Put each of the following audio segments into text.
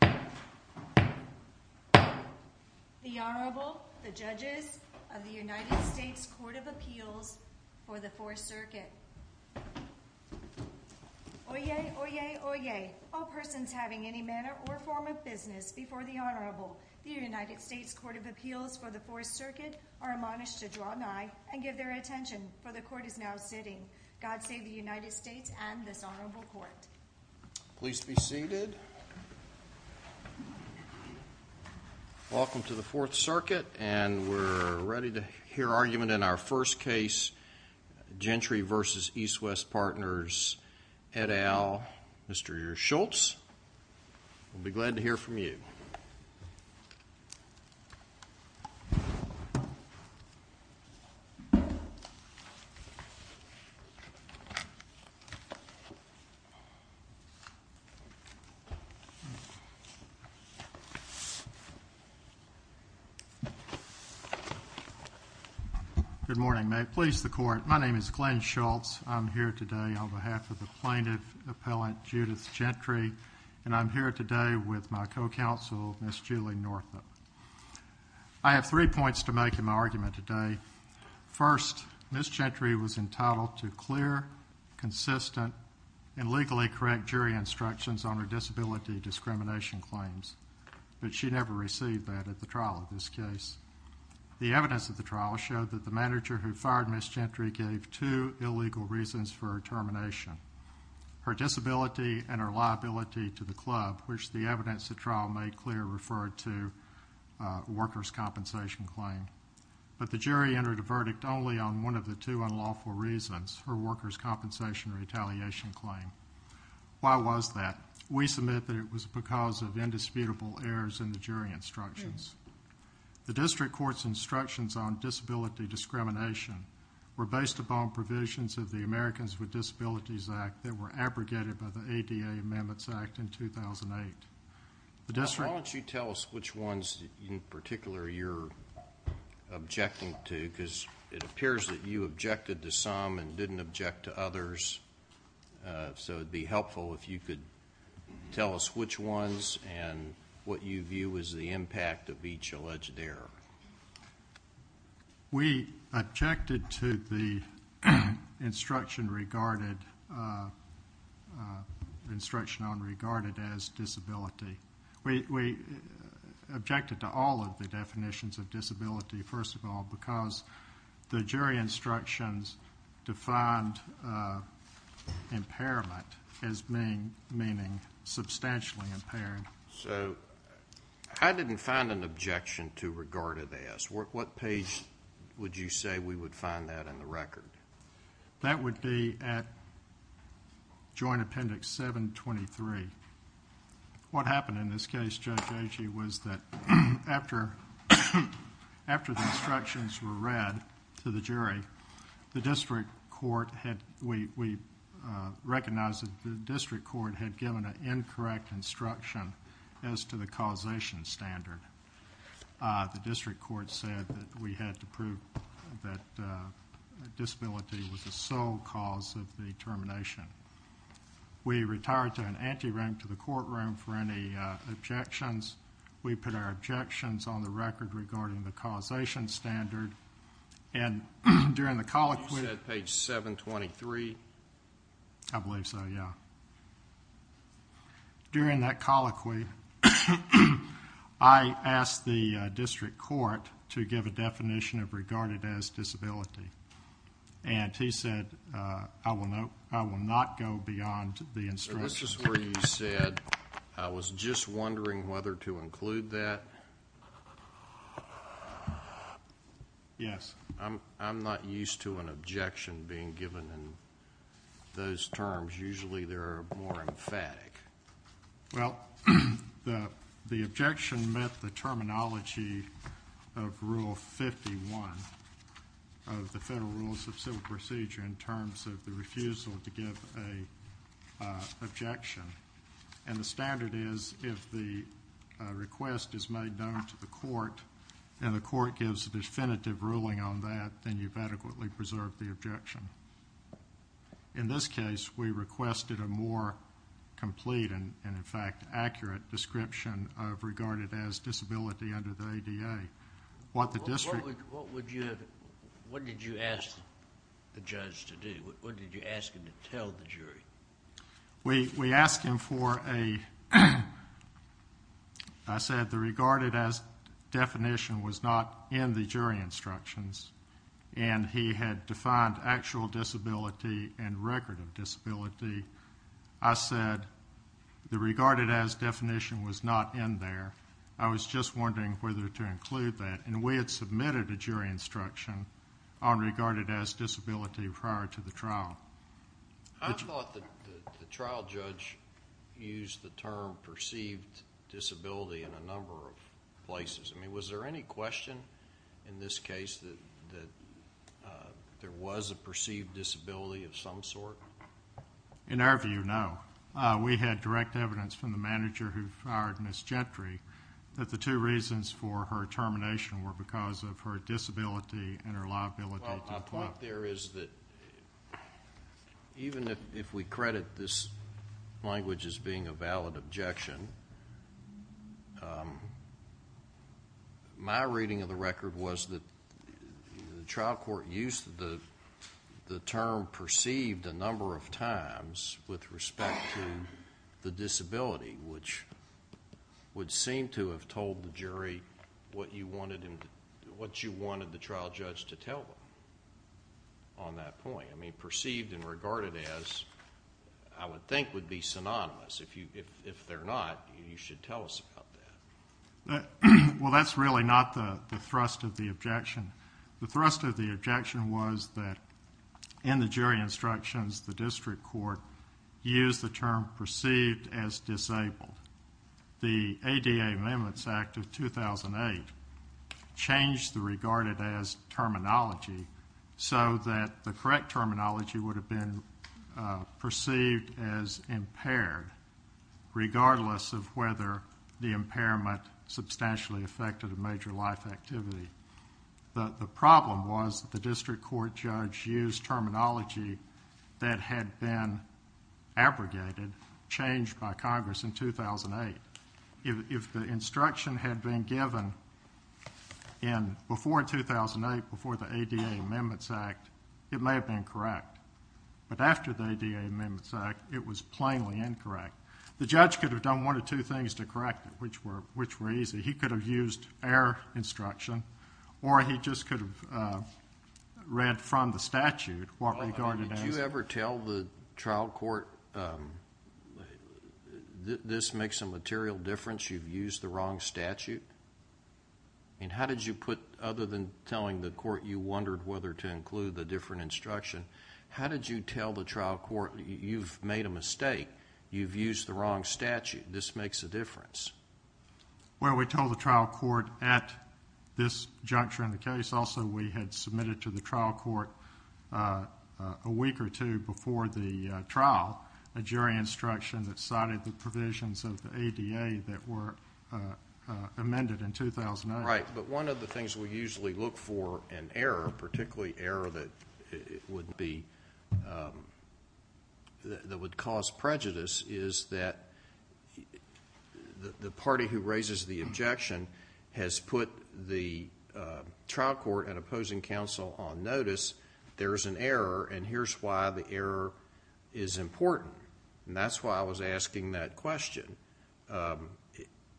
The Honorable, the Judges of the United States Court of Appeals for the Fourth Circuit. Oyez! Oyez! Oyez! All persons having any manner or form of business before the Honorable, the United States Court of Appeals for the Fourth Circuit, are admonished to draw nigh and give their attention, for the Court is now sitting. God save the United States and this Honorable Court. Please be seated. Welcome to the Fourth Circuit, and we're ready to hear argument in our first case, Gentry v. East West Partners et al., Mr. Schultz. We'll be glad to hear from you. Good morning. May it please the Court, my name is Glenn Schultz. I'm here today on behalf of the plaintiff, Appellant Judith Gentry, and I'm here today with my co-counsel, Ms. Julie Northup. I have three points to make in my argument today. First, Ms. Gentry was entitled to clear, consistent, and legally correct jury instructions on her disability discrimination claims, but she never received that at the trial of this case. The evidence at the trial showed that the manager who fired Ms. Gentry gave two illegal reasons for her termination, her disability and her liability to the club, which the evidence at trial made clear referred to workers' compensation claim. But the jury entered a verdict only on one of the two unlawful reasons, her workers' compensation retaliation claim. Why was that? We submit that it was because of indisputable errors in the jury instructions. The district court's instructions on disability discrimination were based upon provisions of the Americans with Disabilities Act that were abrogated by the ADA Amendments Act in 2008. Why don't you tell us which ones in particular you're objecting to, because it appears that you objected to some and didn't object to others, so it would be helpful if you could tell us which ones and what you view as the impact of each alleged error. We objected to the instruction on regarded as disability. We objected to all of the definitions of disability, first of all, because the jury instructions defined impairment as meaning substantially impaired. I didn't find an objection to regarded as. What page would you say we would find that in the record? That would be at Joint Appendix 723. What happened in this case, Judge Agee, was that after the instructions were read to the jury, we recognized that the district court had given an incorrect instruction as to the causation standard. The district court said that we had to prove that disability was the sole cause of the termination. We retired to an ante room, to the courtroom, for any objections. We put our objections on the record regarding the causation standard. You said page 723? I believe so, yeah. During that colloquy, I asked the district court to give a definition of regarded as disability. He said, I will not go beyond the instructions. That's just where you said, I was just wondering whether to include that. Yes. I'm not used to an objection being given in those terms. Usually, they're more emphatic. Well, the objection met the terminology of Rule 51 of the Federal Rules of Civil Procedure in terms of the refusal to give an objection. The standard is, if the request is made known to the court and the court gives a definitive ruling on that, then you've adequately preserved the objection. In this case, we requested a more complete and, in fact, accurate description of regarded as disability under the ADA. What did you ask the judge to do? What did you ask him to tell the jury? We asked him for a, I said the regarded as definition was not in the jury instructions, and he had defined actual disability and record of disability. I said the regarded as definition was not in there. I was just wondering whether to include that. And we had submitted a jury instruction on regarded as disability prior to the trial. I thought that the trial judge used the term perceived disability in a number of places. I mean, was there any question in this case that there was a perceived disability of some sort? In our view, no. We had direct evidence from the manager who fired Ms. Gentry that the two reasons for her termination were because of her disability and her liability. Well, my point there is that even if we credit this language as being a valid objection, my reading of the record was that the trial court used the term perceived a number of times with respect to the disability, which would seem to have told the jury what you wanted the trial judge to tell them on that point. I mean, perceived and regarded as I would think would be synonymous. If they're not, you should tell us about that. Well, that's really not the thrust of the objection. The thrust of the objection was that in the jury instructions, the district court used the term perceived as disabled. The ADA Amendments Act of 2008 changed the regarded as terminology so that the correct terminology would have been perceived as impaired, regardless of whether the impairment substantially affected a major life activity. The problem was that the district court judge used terminology that had been abrogated, changed by Congress in 2008. If the instruction had been given before 2008, before the ADA Amendments Act, it may have been correct. But after the ADA Amendments Act, it was plainly incorrect. The judge could have done one of two things to correct it, which were easy. He could have used error instruction, or he just could have read from the statute what regarded as... Did you ever tell the trial court, this makes a material difference, you've used the wrong statute? I mean, how did you put, other than telling the court you wondered whether to include the different instruction, how did you tell the trial court, you've made a mistake, you've used the wrong statute, this makes a difference? Well, we told the trial court at this juncture in the case. Also, we had submitted to the trial court a week or two before the trial, a jury instruction that cited the provisions of the ADA that were amended in 2008. Right, but one of the things we usually look for in error, particularly error that would cause prejudice, is that the party who raises the objection has put the trial court and opposing counsel on notice, there's an error, and here's why the error is important. And that's why I was asking that question.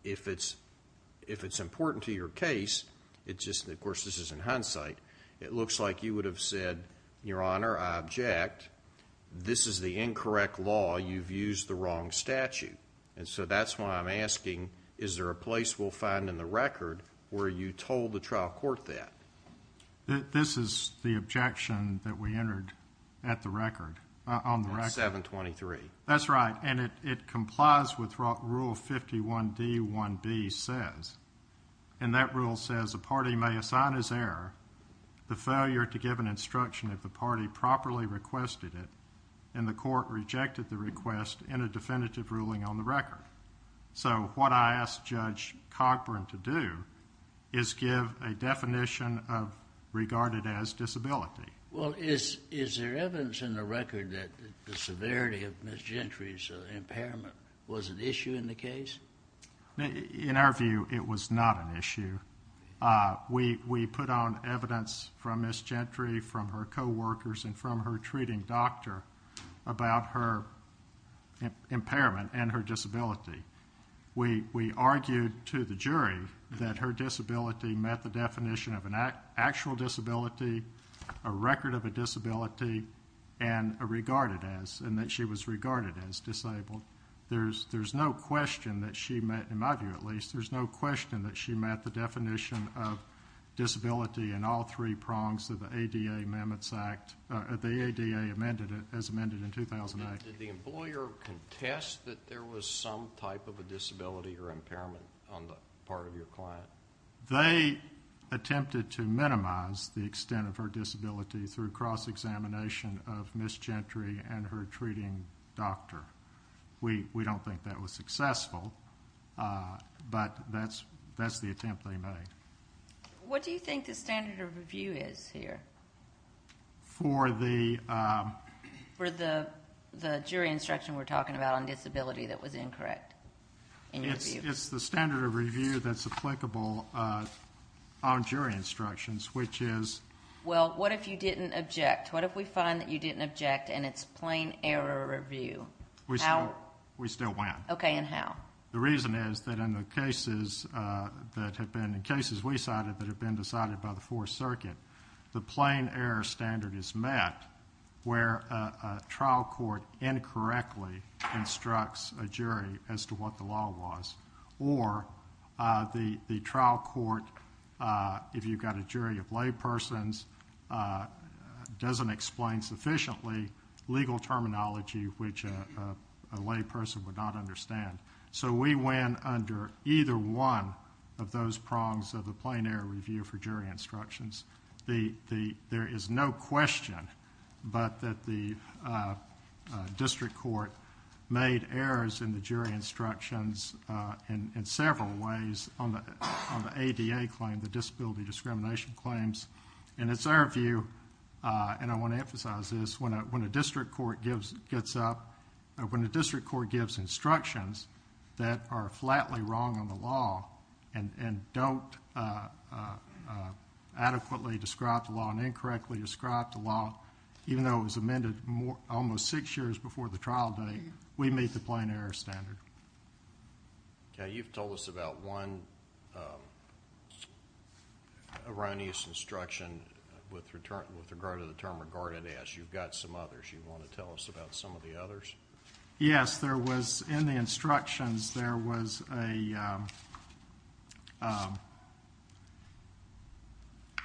If it's important to your case, of course this is in hindsight, it looks like you would have said, Your Honor, I object, this is the incorrect law, you've used the wrong statute. And so that's why I'm asking, is there a place we'll find in the record where you told the trial court that? This is the objection that we entered at the record, on the record. At 723. That's right, and it complies with what Rule 51D1B says, and that rule says, a party may assign as error the failure to give an instruction if the party properly requested it, and the court rejected the request in a definitive ruling on the record. So what I asked Judge Cogburn to do is give a definition of regarded as disability. Well, is there evidence in the record that the severity of Ms. Gentry's impairment was an issue in the case? In our view, it was not an issue. We put on evidence from Ms. Gentry, from her coworkers, and from her treating doctor about her impairment and her disability. We argued to the jury that her disability met the definition of an actual disability, a record of a disability, and that she was regarded as disabled. There's no question that she met, in my view at least, there's no question that she met the definition of disability in all three prongs of the ADA Amendments Act, the ADA as amended in 2008. Did the employer contest that there was some type of a disability or impairment on the part of your client? They attempted to minimize the extent of her disability through cross-examination of Ms. Gentry and her treating doctor. We don't think that was successful, but that's the attempt they made. What do you think the standard of review is here? For the jury instruction we're talking about on disability that was incorrect? It's the standard of review that's applicable on jury instructions, which is? Well, what if you didn't object? What if we find that you didn't object and it's plain error review? We still win. Okay, and how? The reason is that in the cases that have been decided by the Fourth Circuit, the plain error standard is met where a trial court incorrectly instructs a jury as to what the law was, or the trial court, if you've got a jury of laypersons, doesn't explain sufficiently legal terminology which a layperson would not understand. So we win under either one of those prongs of the plain error review for jury instructions. There is no question but that the district court made errors in the jury instructions in several ways on the ADA claim, the disability discrimination claims. And it's our view, and I want to emphasize this, when a district court gives instructions that are flatly wrong on the law and don't adequately describe the law and incorrectly describe the law, even though it was amended almost six years before the trial date, we meet the plain error standard. You've told us about one erroneous instruction with regard to the term regarded as. You've got some others. You want to tell us about some of the others? Yes. There was, in the instructions, there was a,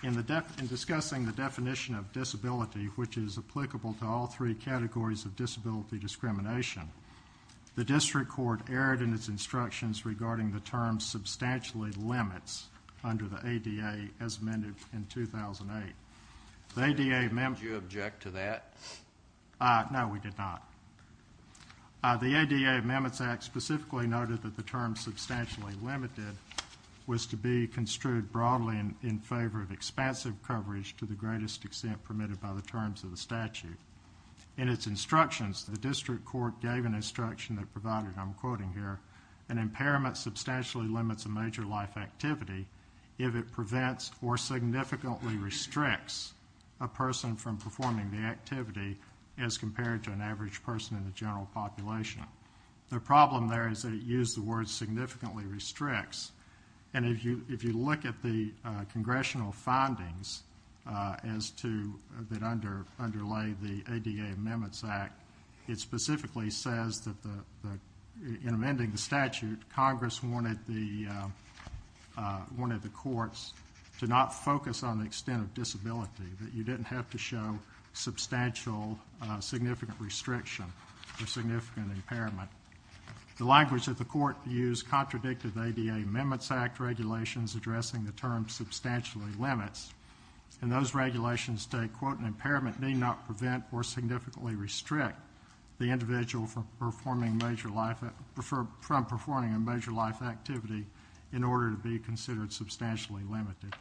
in discussing the definition of disability, which is applicable to all three categories of disability discrimination, the district court erred in its instructions regarding the term substantially limits under the ADA as amended in 2008. The ADA, ma'am. Did you object to that? No, we did not. The ADA Amendments Act specifically noted that the term substantially limited was to be construed broadly in favor of expansive coverage to the greatest extent permitted by the terms of the statute. In its instructions, the district court gave an instruction that provided, I'm quoting here, an impairment substantially limits a major life activity if it prevents or significantly restricts a person from performing the activity as compared to an average person in the general population. The problem there is they use the word significantly restricts. And if you look at the congressional findings as to that underlay the ADA Amendments Act, it specifically says that in amending the statute, Congress wanted the courts to not focus on the extent of disability, that you didn't have to show substantial significant restriction or significant impairment. The language that the court used contradicted the ADA Amendments Act regulations addressing the term substantially limits. And those regulations state, quote, an impairment may not prevent or significantly restrict the individual from performing a major life activity in order to be considered substantially limited.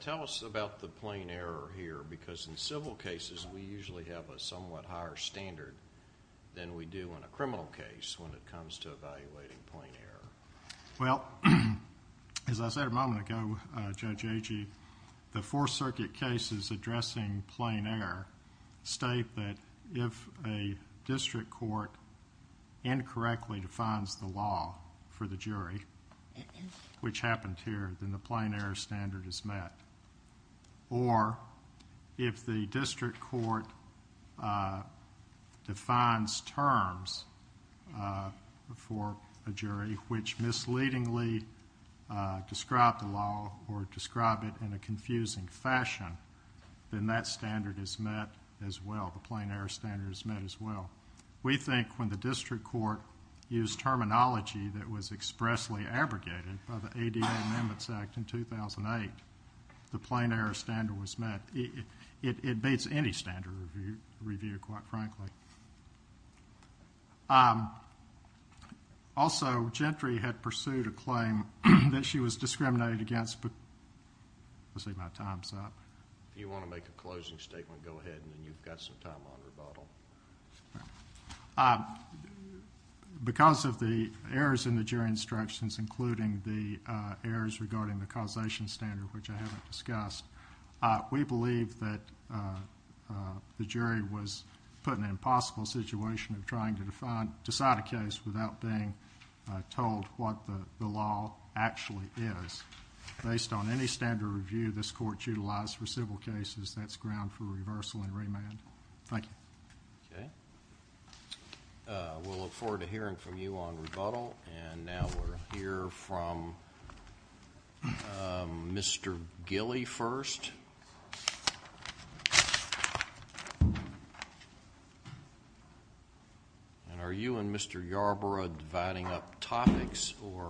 Tell us about the plain error here, because in civil cases we usually have a somewhat higher standard than we do in a criminal case when it comes to evaluating plain error. Well, as I said a moment ago, Judge Agee, the Fourth Circuit cases addressing plain error state that if a district court incorrectly defines the law for the jury, which happened here, then the plain error standard is met. Or if the district court defines terms for a jury which misleadingly describe the law or describe it in a confusing fashion, then that standard is met as well. The plain error standard is met as well. We think when the district court used terminology that was expressly abrogated by the ADA Amendments Act in 2008, the plain error standard was met. It beats any standard review, quite frankly. Also, Gentry had pursued a claim that she was discriminated against because of the errors in the jury instructions, including the errors regarding the causation standard, which I haven't discussed. We believe that the jury was put in an impossible situation of trying to decide a case without being told what the law actually is. Based on any standard review this Court's utilized for civil cases, that's ground for reversal and remand. Thank you. Okay. We'll look forward to hearing from you on rebuttal. Now we'll hear from Mr. Gilley first. Are you and Mr. Yarbrough dividing up topics, or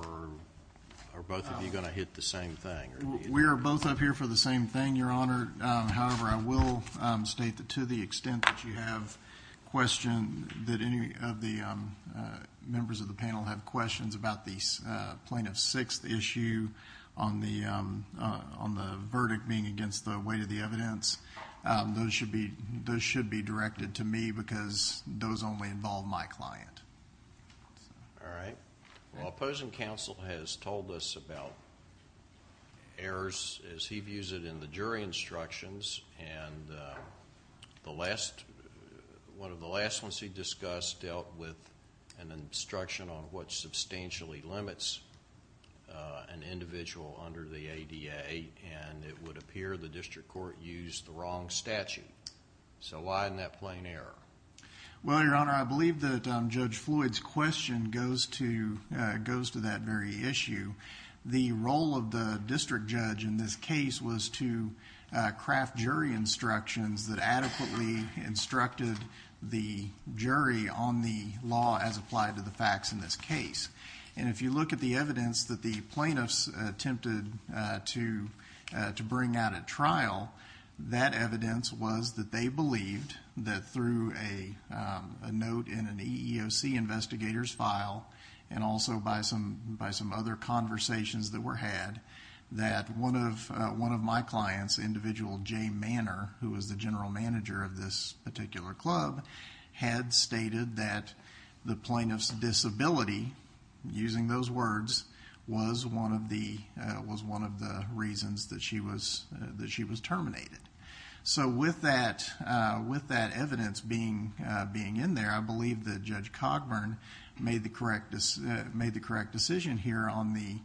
are both of you going to hit the same thing? We are both up here for the same thing, Your Honor. Your Honor, however, I will state that to the extent that you have questions, that any of the members of the panel have questions about the plaintiff's sixth issue on the verdict being against the weight of the evidence, those should be directed to me because those only involve my client. All right. Well, opposing counsel has told us about errors as he views it in the jury instructions, and one of the last ones he discussed dealt with an instruction on what substantially limits an individual under the ADA, and it would appear the district court used the wrong statute. So why isn't that plain error? Well, Your Honor, I believe that Judge Floyd's question goes to that very issue. The role of the district judge in this case was to craft jury instructions that adequately instructed the jury on the law as applied to the facts in this case, and if you look at the evidence that the plaintiffs attempted to bring out at trial, that evidence was that they believed that through a note in an EEOC investigator's file and also by some other conversations that were had, that one of my clients, individual Jay Manor, who was the general manager of this particular club, had stated that the plaintiff's disability, using those words, was one of the reasons that she was terminated. So with that evidence being in there, I believe that Judge Cogburn made the correct decision here in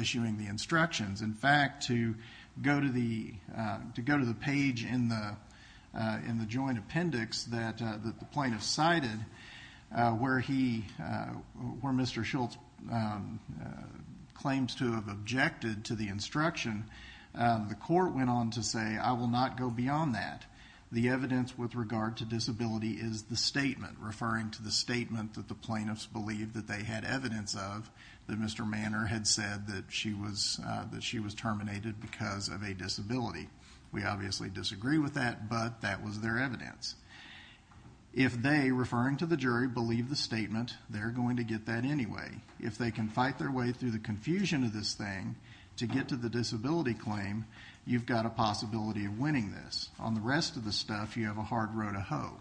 issuing the instructions. In fact, to go to the page in the joint appendix that the plaintiff cited where Mr. Schultz claims to have objected to the instruction, the court went on to say, I will not go beyond that. The evidence with regard to disability is the statement, referring to the statement that the plaintiffs believed that they had evidence of that Mr. Manor had said that she was terminated because of a disability. We obviously disagree with that, but that was their evidence. If they, referring to the jury, believe the statement, they're going to get that anyway. If they can fight their way through the confusion of this thing to get to the disability claim, you've got a possibility of winning this. On the rest of the stuff, you have a hard row to hoe.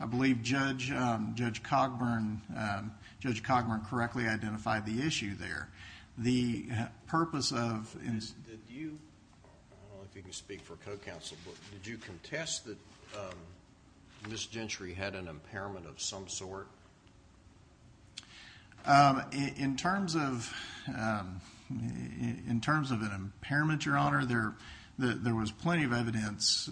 I believe Judge Cogburn correctly identified the issue there. I don't know if you can speak for co-counsel, but did you contest that Ms. Gentry had an impairment of some sort? In terms of an impairment, Your Honor, there was plenty of evidence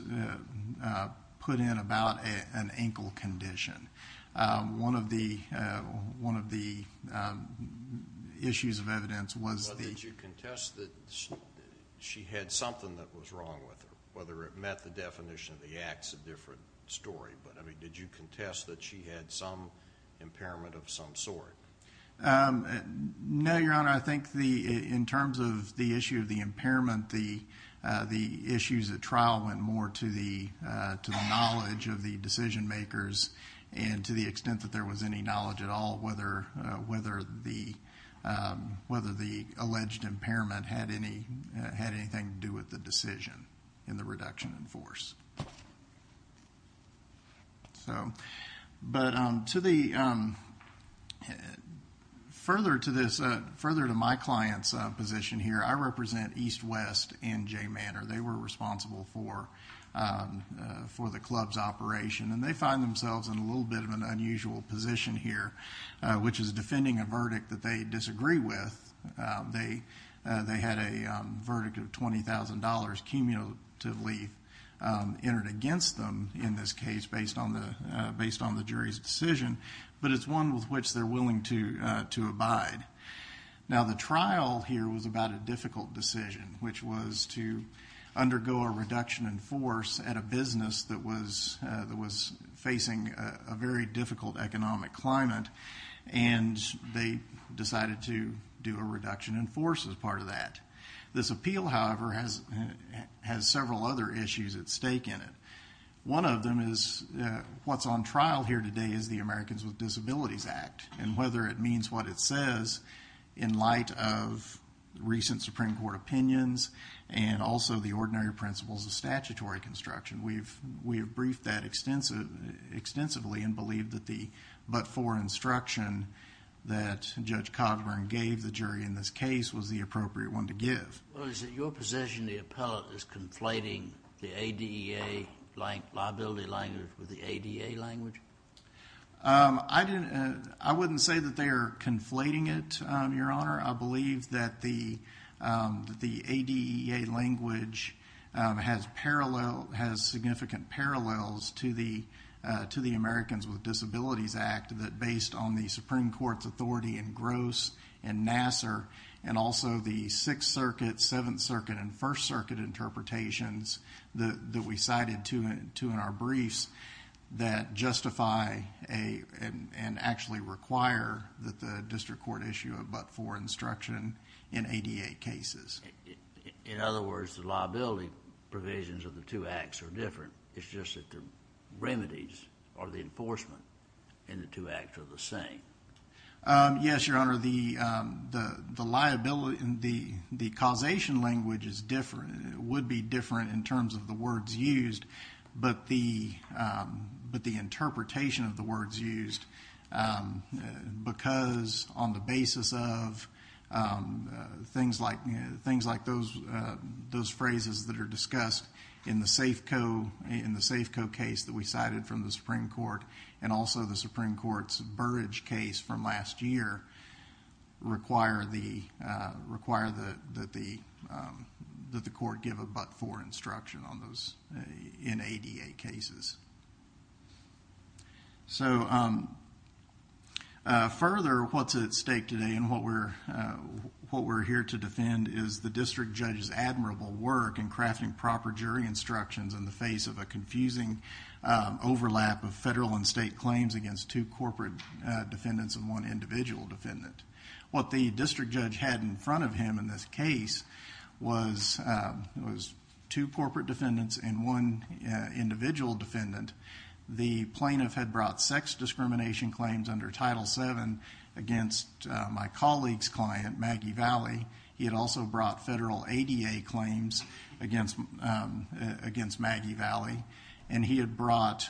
put in about an ankle condition. One of the issues of evidence was the- Well, did you contest that she had something that was wrong with her, whether it met the definition of the acts, a different story, but did you contest that she had some impairment of some sort? No, Your Honor. I think in terms of the issue of the impairment, the issues at trial went more to the knowledge of the decision makers and to the extent that there was any knowledge at all whether the alleged impairment had anything to do with the decision in the reduction in force. Further to my client's position here, I represent EastWest and Jay Manor. They were responsible for the club's operation, and they find themselves in a little bit of an unusual position here, which is defending a verdict that they disagree with. They had a verdict of $20,000 cumulatively entered against them in this case based on the jury's decision, but it's one with which they're willing to abide. Now, the trial here was about a difficult decision, which was to undergo a reduction in force at a business that was facing a very difficult economic climate, and they decided to do a reduction in force as part of that. This appeal, however, has several other issues at stake in it. One of them is what's on trial here today is the Americans with Disabilities Act and whether it means what it says in light of recent Supreme Court opinions and also the ordinary principles of statutory construction. We have briefed that extensively and believe that the but-for instruction that Judge Cogburn gave the jury in this case was the appropriate one to give. Well, is it your position the appellate is conflating the ADA liability language with the ADA language? I wouldn't say that they are conflating it, Your Honor. I believe that the ADA language has significant parallels to the Americans with Disabilities Act that based on the Supreme Court's authority in Gross and Nassar and also the Sixth Circuit, Seventh Circuit, and First Circuit interpretations that we cited to in our briefs that justify and actually require that the district court issue a but-for instruction in ADA cases. In other words, the liability provisions of the two acts are different. It's just that the remedies or the enforcement in the two acts are the same. Yes, Your Honor. The causation language would be different in terms of the words used, but the interpretation of the words used because on the basis of things like those phrases that are discussed in the Safeco case that we cited from the Supreme Court and also the Supreme Court's Burridge case from last year require that the court give a but-for instruction in ADA cases. Further, what's at stake today and what we're here to defend is the district judge's admirable work in crafting proper jury instructions in the face of a confusing overlap of federal and state claims against two corporate defendants and one individual defendant. What the district judge had in front of him in this case was two corporate defendants and one individual defendant. The plaintiff had brought sex discrimination claims under Title VII against my colleague's client, Maggie Valley. He had also brought federal ADA claims against Maggie Valley. And he had brought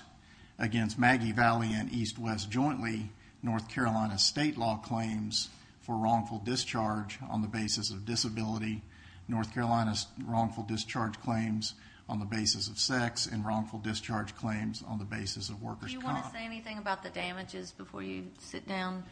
against Maggie Valley and EastWest jointly North Carolina state law claims for wrongful discharge on the basis of disability, North Carolina's wrongful discharge claims on the basis of sex, and wrongful discharge claims on the basis of workers' comp. Do you want to say anything about the damages before you sit down?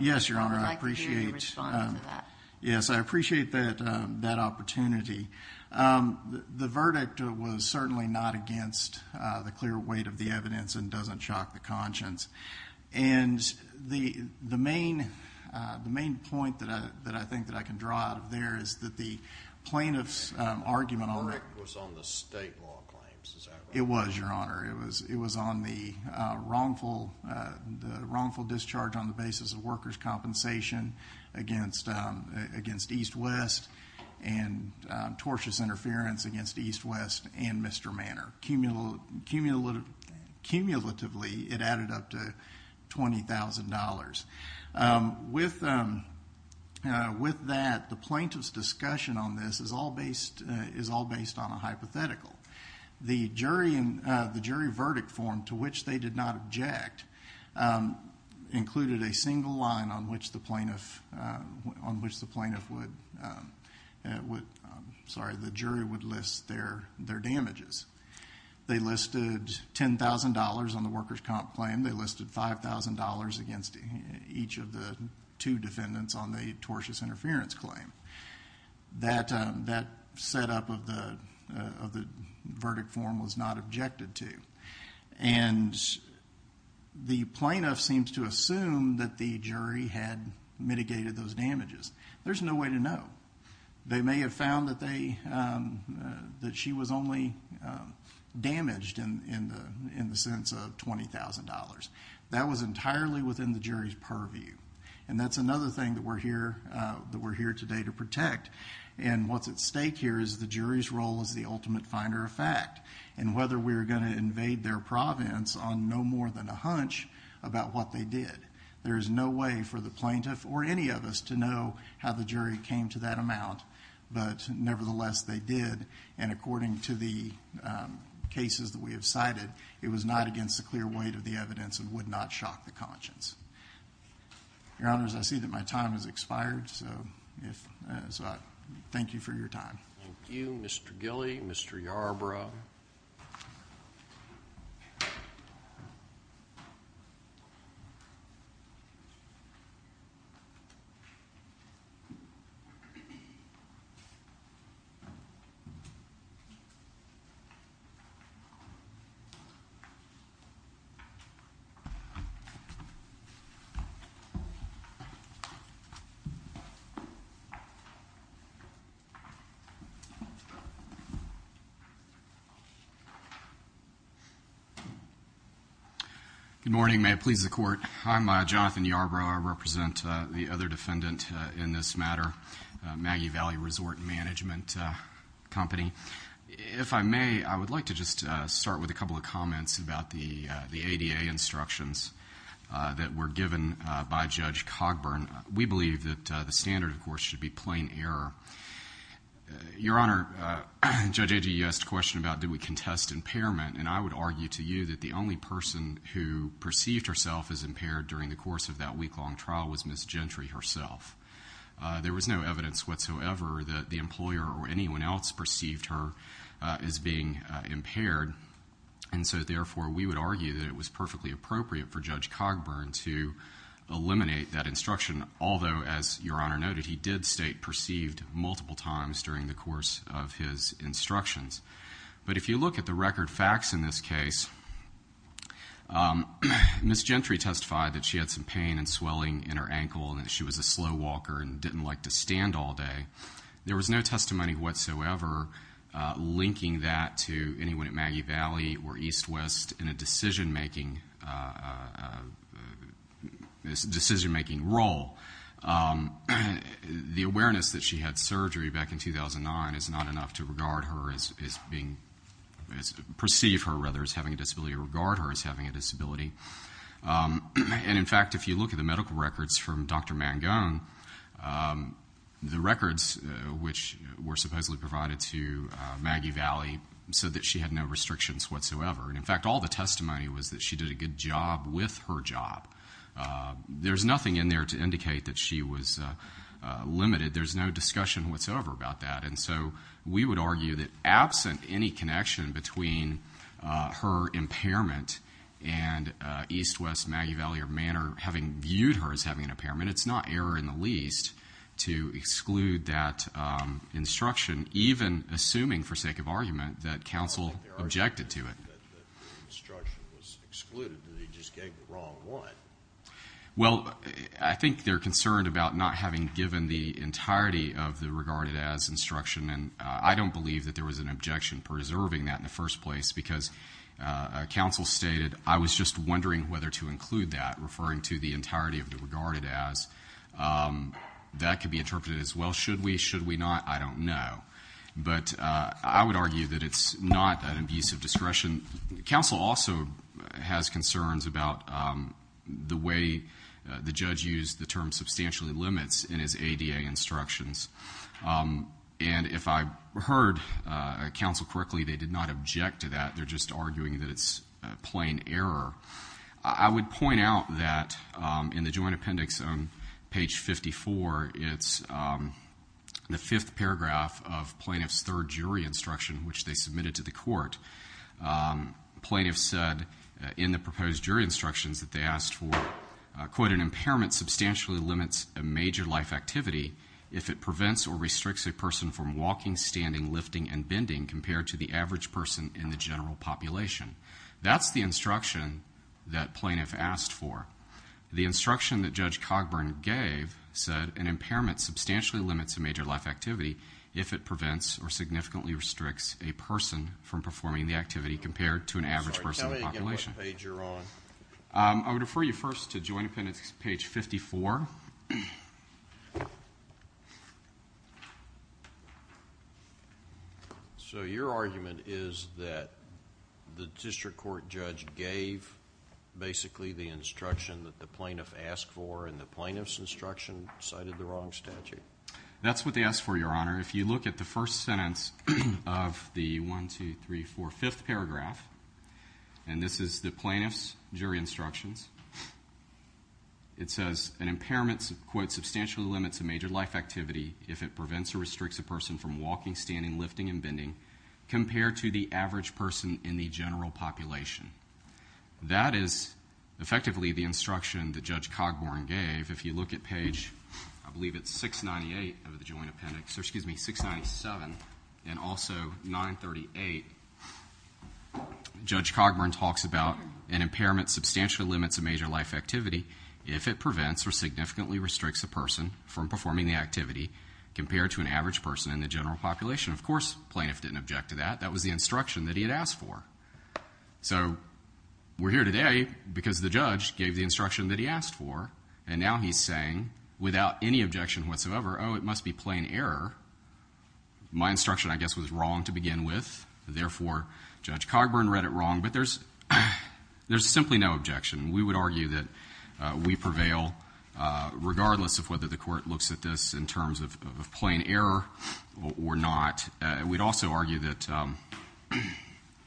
Yes, Your Honor. I would like to hear your response to that. Yes, I appreciate that opportunity. The verdict was certainly not against the clear weight of the evidence and doesn't shock the conscience. And the main point that I think that I can draw out of there is that the plaintiff's argument on it was on the state law claims. It was, Your Honor. It was on the wrongful discharge on the basis of workers' compensation against EastWest and tortious interference against EastWest and Mr. Manor. Cumulatively, it added up to $20,000. With that, the plaintiff's discussion on this is all based on a hypothetical. The jury verdict form to which they did not object included a single line on which the jury would list their damages. They listed $10,000 on the workers' comp claim. They listed $5,000 against each of the two defendants on the tortious interference claim. That setup of the verdict form was not objected to. And the plaintiff seems to assume that the jury had mitigated those damages. There's no way to know. They may have found that she was only damaged in the sense of $20,000. That was entirely within the jury's purview. And that's another thing that we're here today to protect. And what's at stake here is the jury's role as the ultimate finder of fact and whether we're going to invade their province on no more than a hunch about what they did. There is no way for the plaintiff or any of us to know how the jury came to that amount. But nevertheless, they did. And according to the cases that we have cited, it was not against the clear weight of the evidence and would not shock the conscience. Your Honors, I see that my time has expired, so thank you for your time. Thank you, Mr. Gilley, Mr. Yarbrough. Good morning. May it please the Court. I'm Jonathan Yarbrough. I represent the other defendant in this matter, Maggie Valley Resort and Management Company. If I may, I would like to just start with a couple of comments about the ADA instructions that were given by Judge Cogburn. We believe that the standard, of course, should be plain error. Your Honor, Judge Agee, you asked a question about do we contest impairment, and I would argue to you that the only person who perceived herself as impaired during the course of that week-long trial was Ms. Gentry herself. There was no evidence whatsoever that the employer or anyone else perceived her as being impaired, and so therefore we would argue that it was perfectly appropriate for Judge Cogburn to eliminate that instruction, although, as Your Honor noted, he did state perceived multiple times during the course of his instructions. But if you look at the record facts in this case, Ms. Gentry testified that she had some pain and swelling in her ankle and that she was a slow walker and didn't like to stand all day. There was no testimony whatsoever linking that to anyone at Maggie Valley or EastWest in a decision-making role. The awareness that she had surgery back in 2009 is not enough to regard her as being, perceive her rather as having a disability or regard her as having a disability. And, in fact, if you look at the medical records from Dr. Mangone, the records which were supposedly provided to Maggie Valley said that she had no restrictions whatsoever. And, in fact, all the testimony was that she did a good job with her job. There's nothing in there to indicate that she was limited. There's no discussion whatsoever about that. And so we would argue that absent any connection between her impairment and EastWest, Maggie Valley, or Manor having viewed her as having an impairment, it's not error in the least to exclude that instruction, even assuming, for sake of argument, that counsel objected to it. Well, I think they're concerned about not having given the entirety of the regarded as instruction. And I don't believe that there was an objection preserving that in the first place because counsel stated, I was just wondering whether to include that, referring to the entirety of the regarded as. That could be interpreted as, well, should we? Should we not? I don't know. But I would argue that it's not an abuse of discretion. Counsel also has concerns about the way the judge used the term substantially limits in his ADA instructions. And if I heard counsel correctly, they did not object to that. They're just arguing that it's plain error. I would point out that in the joint appendix on page 54, it's the fifth paragraph of plaintiff's third jury instruction, which they submitted to the court. Plaintiff said in the proposed jury instructions that they asked for, quote, an impairment substantially limits a major life activity if it prevents or restricts a person from walking, standing, lifting, and bending, compared to the average person in the general population. That's the instruction that plaintiff asked for. The instruction that Judge Cogburn gave said an impairment substantially limits a major life activity if it prevents or significantly restricts a person from performing the activity compared to an average person in the population. Sorry, tell me again what page you're on. I would refer you first to joint appendix page 54. So your argument is that the district court judge gave basically the instruction that the plaintiff asked for and the plaintiff's instruction cited the wrong statute? That's what they asked for, Your Honor. If you look at the first sentence of the 1, 2, 3, 4, 5th paragraph, and this is the plaintiff's jury instructions, it says an impairment, quote, substantially limits a major life activity if it prevents or restricts a person from walking, standing, lifting, and bending, compared to the average person in the general population. That is effectively the instruction that Judge Cogburn gave. If you look at page, I believe it's 698 of the joint appendix, excuse me, 697, and also 938, Judge Cogburn talks about an impairment substantially limits a major life activity if it prevents or significantly restricts a person from performing the activity compared to an average person in the general population. Of course, the plaintiff didn't object to that. That was the instruction that he had asked for. So we're here today because the judge gave the instruction that he asked for, and now he's saying, without any objection whatsoever, oh, it must be plain error. My instruction, I guess, was wrong to begin with. Therefore, Judge Cogburn read it wrong, but there's simply no objection. We would argue that we prevail regardless of whether the court looks at this in terms of plain error or not. We'd also argue that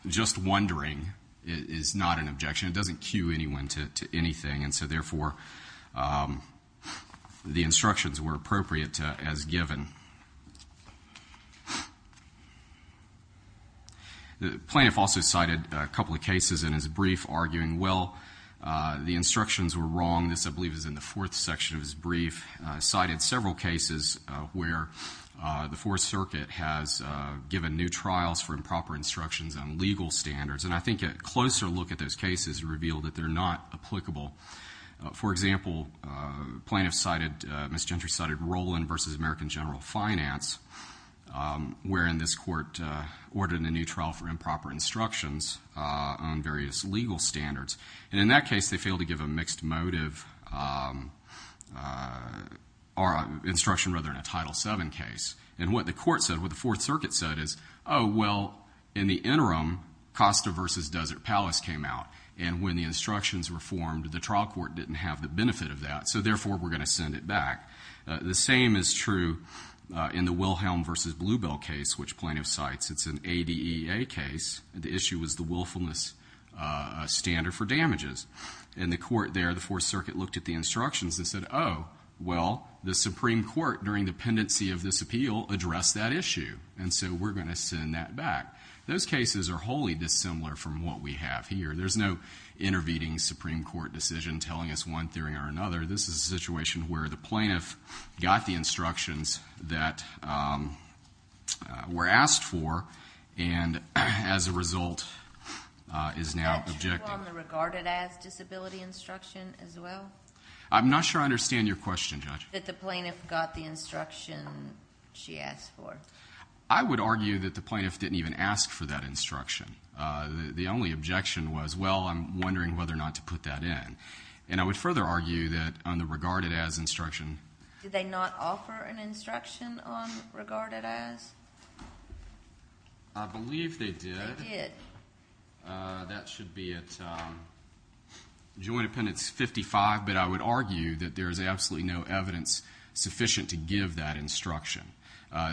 just wondering is not an objection. It doesn't cue anyone to anything, and so therefore the instructions were appropriate as given. The plaintiff also cited a couple of cases in his brief arguing, well, the instructions were wrong. This, I believe, is in the fourth section of his brief. He cited several cases where the Fourth Circuit has given new trials for improper instructions on legal standards, and I think a closer look at those cases revealed that they're not applicable. For example, the plaintiff cited, Ms. Gentry cited, Roland v. American General Finance, wherein this court ordered a new trial for improper instructions on various legal standards. And in that case, they failed to give a mixed motive instruction rather than a Title VII case. And what the court said, what the Fourth Circuit said is, oh, well, in the interim, Costa v. Desert Palace came out, and when the instructions were formed, the trial court didn't have the benefit of that, so therefore we're going to send it back. The same is true in the Wilhelm v. Bluebell case, which plaintiff cites. It's an ADEA case. The issue was the willfulness standard for damages. In the court there, the Fourth Circuit looked at the instructions and said, oh, well, the Supreme Court, during the pendency of this appeal, addressed that issue, and so we're going to send that back. Those cases are wholly dissimilar from what we have here. There's no intervening Supreme Court decision telling us one theory or another. This is a situation where the plaintiff got the instructions that were asked for and, as a result, is now objecting. Judge, do you want to regard it as disability instruction as well? I'm not sure I understand your question, Judge. That the plaintiff got the instruction she asked for. I would argue that the plaintiff didn't even ask for that instruction. The only objection was, well, I'm wondering whether or not to put that in. And I would further argue that on the regarded as instruction. Did they not offer an instruction on regarded as? I believe they did. They did. That should be at Joint Appendix 55, but I would argue that there is absolutely no evidence sufficient to give that instruction.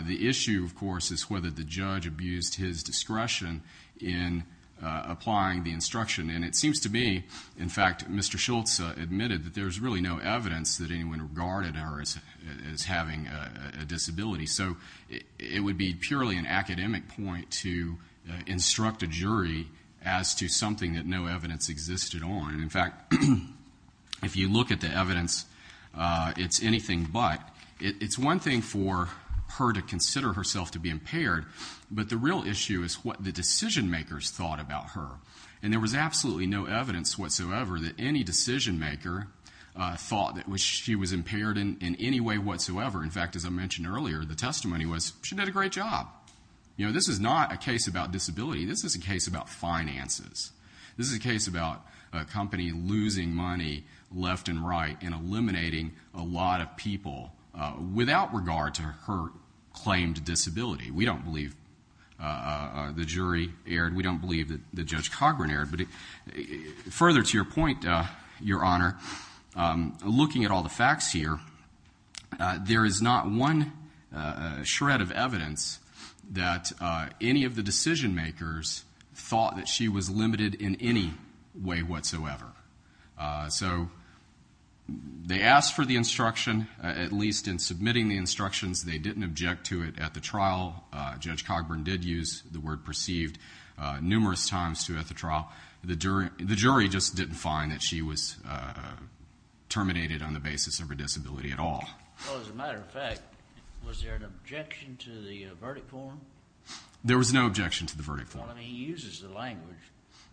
The issue, of course, is whether the judge abused his discretion in applying the instruction. And it seems to me, in fact, Mr. Schultz admitted that there's really no evidence that anyone regarded her as having a disability. So it would be purely an academic point to instruct a jury as to something that no evidence existed on. In fact, if you look at the evidence, it's anything but. It's one thing for her to consider herself to be impaired, but the real issue is what the decision makers thought about her. And there was absolutely no evidence whatsoever that any decision maker thought that she was impaired in any way whatsoever. In fact, as I mentioned earlier, the testimony was, she did a great job. You know, this is not a case about disability. This is a case about finances. This is a case about a company losing money left and right and eliminating a lot of people without regard to her claimed disability. We don't believe the jury erred. We don't believe that Judge Cochran erred. But further to your point, Your Honor, looking at all the facts here, there is not one shred of evidence that any of the decision makers thought that she was limited in any way whatsoever. So they asked for the instruction, at least in submitting the instructions. They didn't object to it at the trial. Judge Cochran did use the word perceived numerous times at the trial. The jury just didn't find that she was terminated on the basis of her disability at all. Well, as a matter of fact, was there an objection to the verdict form? There was no objection to the verdict form. Well, I mean, he uses the language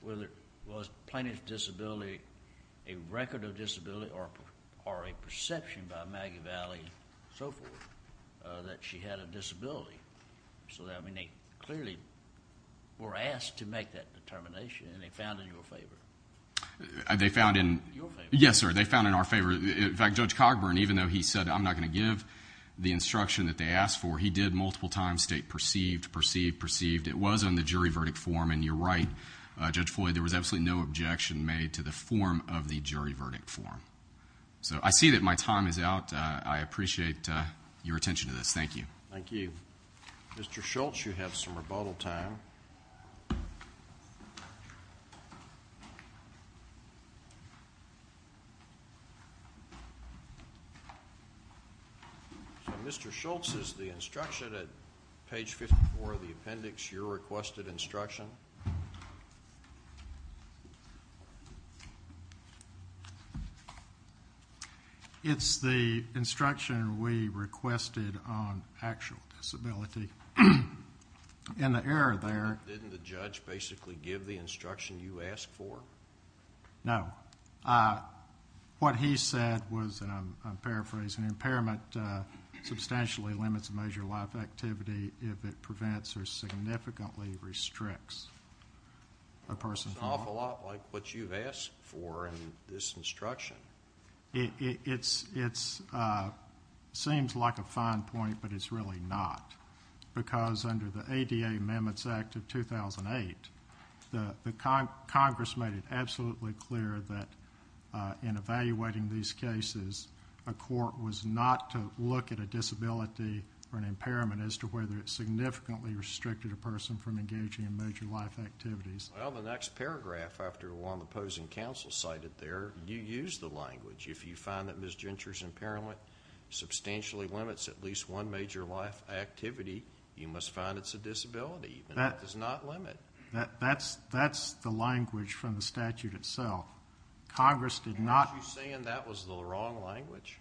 whether it was plaintiff's disability, a record of disability, or a perception by Maggie Valley and so forth that she had a disability. So, I mean, they clearly were asked to make that determination, and they found in your favor. They found in your favor? Yes, sir. They found in our favor. In fact, Judge Cogburn, even though he said, I'm not going to give the instruction that they asked for, he did multiple times state perceived, perceived, perceived. It was on the jury verdict form, and you're right, Judge Floyd, there was absolutely no objection made to the form of the jury verdict form. So I see that my time is out. I appreciate your attention to this. Thank you. Thank you. Mr. Schultz, you have some rebuttal time. So, Mr. Schultz, is the instruction at page 54 of the appendix your requested instruction? No. It's the instruction we requested on actual disability. In the error there. Didn't the judge basically give the instruction you asked for? No. What he said was, and I'm paraphrasing, substantially limits major life activity if it prevents or significantly restricts a person. It's an awful lot like what you've asked for in this instruction. It seems like a fine point, but it's really not, because under the ADA Amendments Act of 2008, Congress made it absolutely clear that in evaluating these cases, a court was not to look at a disability or an impairment as to whether it significantly restricted a person from engaging in major life activities. Well, the next paragraph after what the opposing counsel cited there, you used the language. If you find that Ms. Ginter's impairment substantially limits at least one major life activity, you must find it's a disability. That does not limit. That's the language from the statute itself. Congress did not. Are you saying that was the wrong language?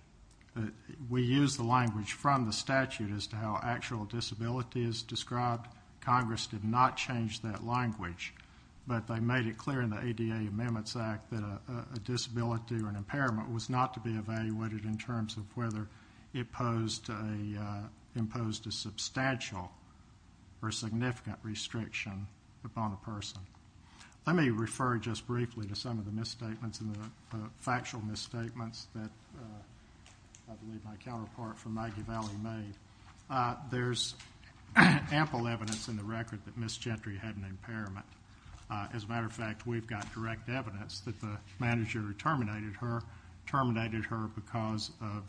We used the language from the statute as to how actual disability is described. Congress did not change that language, but they made it clear in the ADA Amendments Act that a disability or an impairment was not to be evaluated in terms of whether it imposed a substantial or significant restriction upon a person. Let me refer just briefly to some of the misstatements and the factual misstatements that I believe my counterpart from Maggie Valley made. There's ample evidence in the record that Ms. Ginter had an impairment. As a matter of fact, we've got direct evidence that the manager who terminated her terminated her because of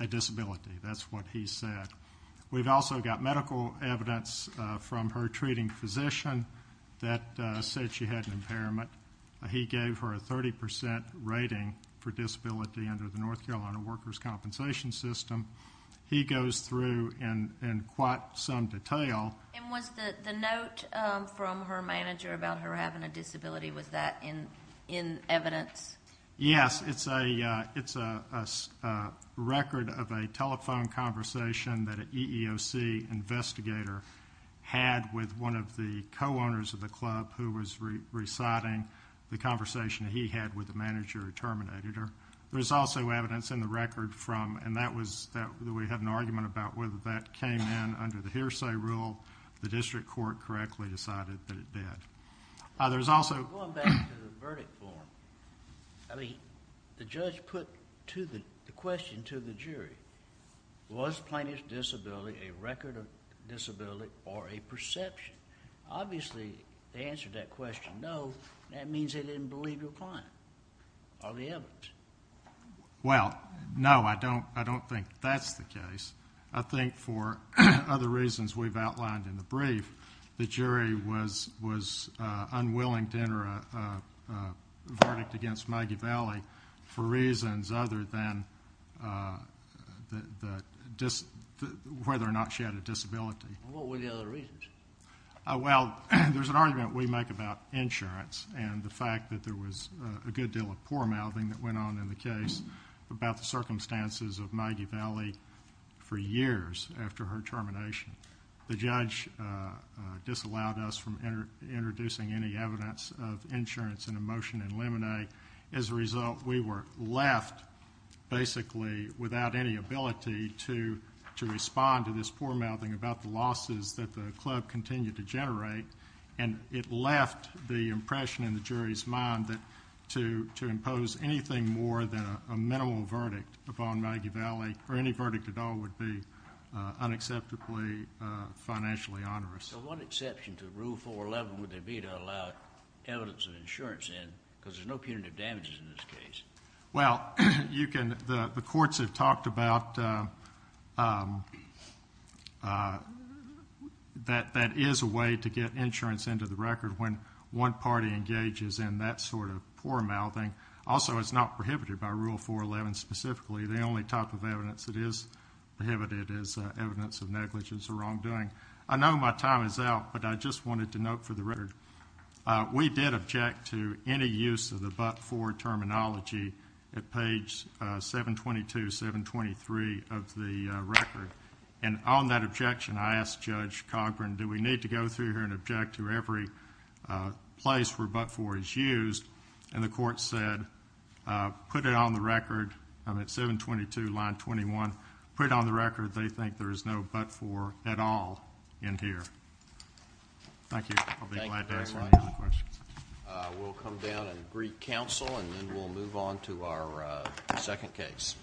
a disability. That's what he said. We've also got medical evidence from her treating physician that said she had an impairment. He gave her a 30% rating for disability under the North Carolina Workers' Compensation System. He goes through in quite some detail. And was the note from her manager about her having a disability, was that in evidence? Yes. It's a record of a telephone conversation that an EEOC investigator had with one of the co-owners of the club who was reciting the conversation he had with the manager who terminated her. There's also evidence in the record from, and we had an argument about whether that came in under the hearsay rule. The district court correctly decided that it did. Going back to the verdict form, the judge put the question to the jury, was Plaintiff's disability a record of disability or a perception? Obviously, they answered that question, no. That means they didn't believe your client or the evidence. Well, no, I don't think that's the case. I believe the jury was unwilling to enter a verdict against Maggie Vallee for reasons other than whether or not she had a disability. What were the other reasons? Well, there's an argument we make about insurance and the fact that there was a good deal of poor-mouthing that went on in the case about the circumstances of Maggie Vallee for years after her termination. The judge disallowed us from introducing any evidence of insurance in a motion in limine. As a result, we were left basically without any ability to respond to this poor-mouthing about the losses that the club continued to generate, and it left the impression in the jury's mind that to impose anything more than a minimal verdict upon Maggie Vallee or any verdict at all would be unacceptably financially onerous. So what exception to Rule 411 would there be to allow evidence of insurance in because there's no punitive damages in this case? Well, the courts have talked about that that is a way to get insurance into the record when one party engages in that sort of poor-mouthing. Also, it's not prohibited by Rule 411 specifically. The only type of evidence that is prohibited is evidence of negligence or wrongdoing. I know my time is out, but I just wanted to note for the record, we did object to any use of the but-for terminology at page 722, 723 of the record. And on that objection, I asked Judge Cochran, do we need to go through here and object to every place where but-for is used? And the court said, put it on the record. I'm at 722, line 21. Put it on the record. They think there is no but-for at all in here. Thank you. I'll be glad to answer any other questions. We'll come down and greet counsel, and then we'll move on to our second case.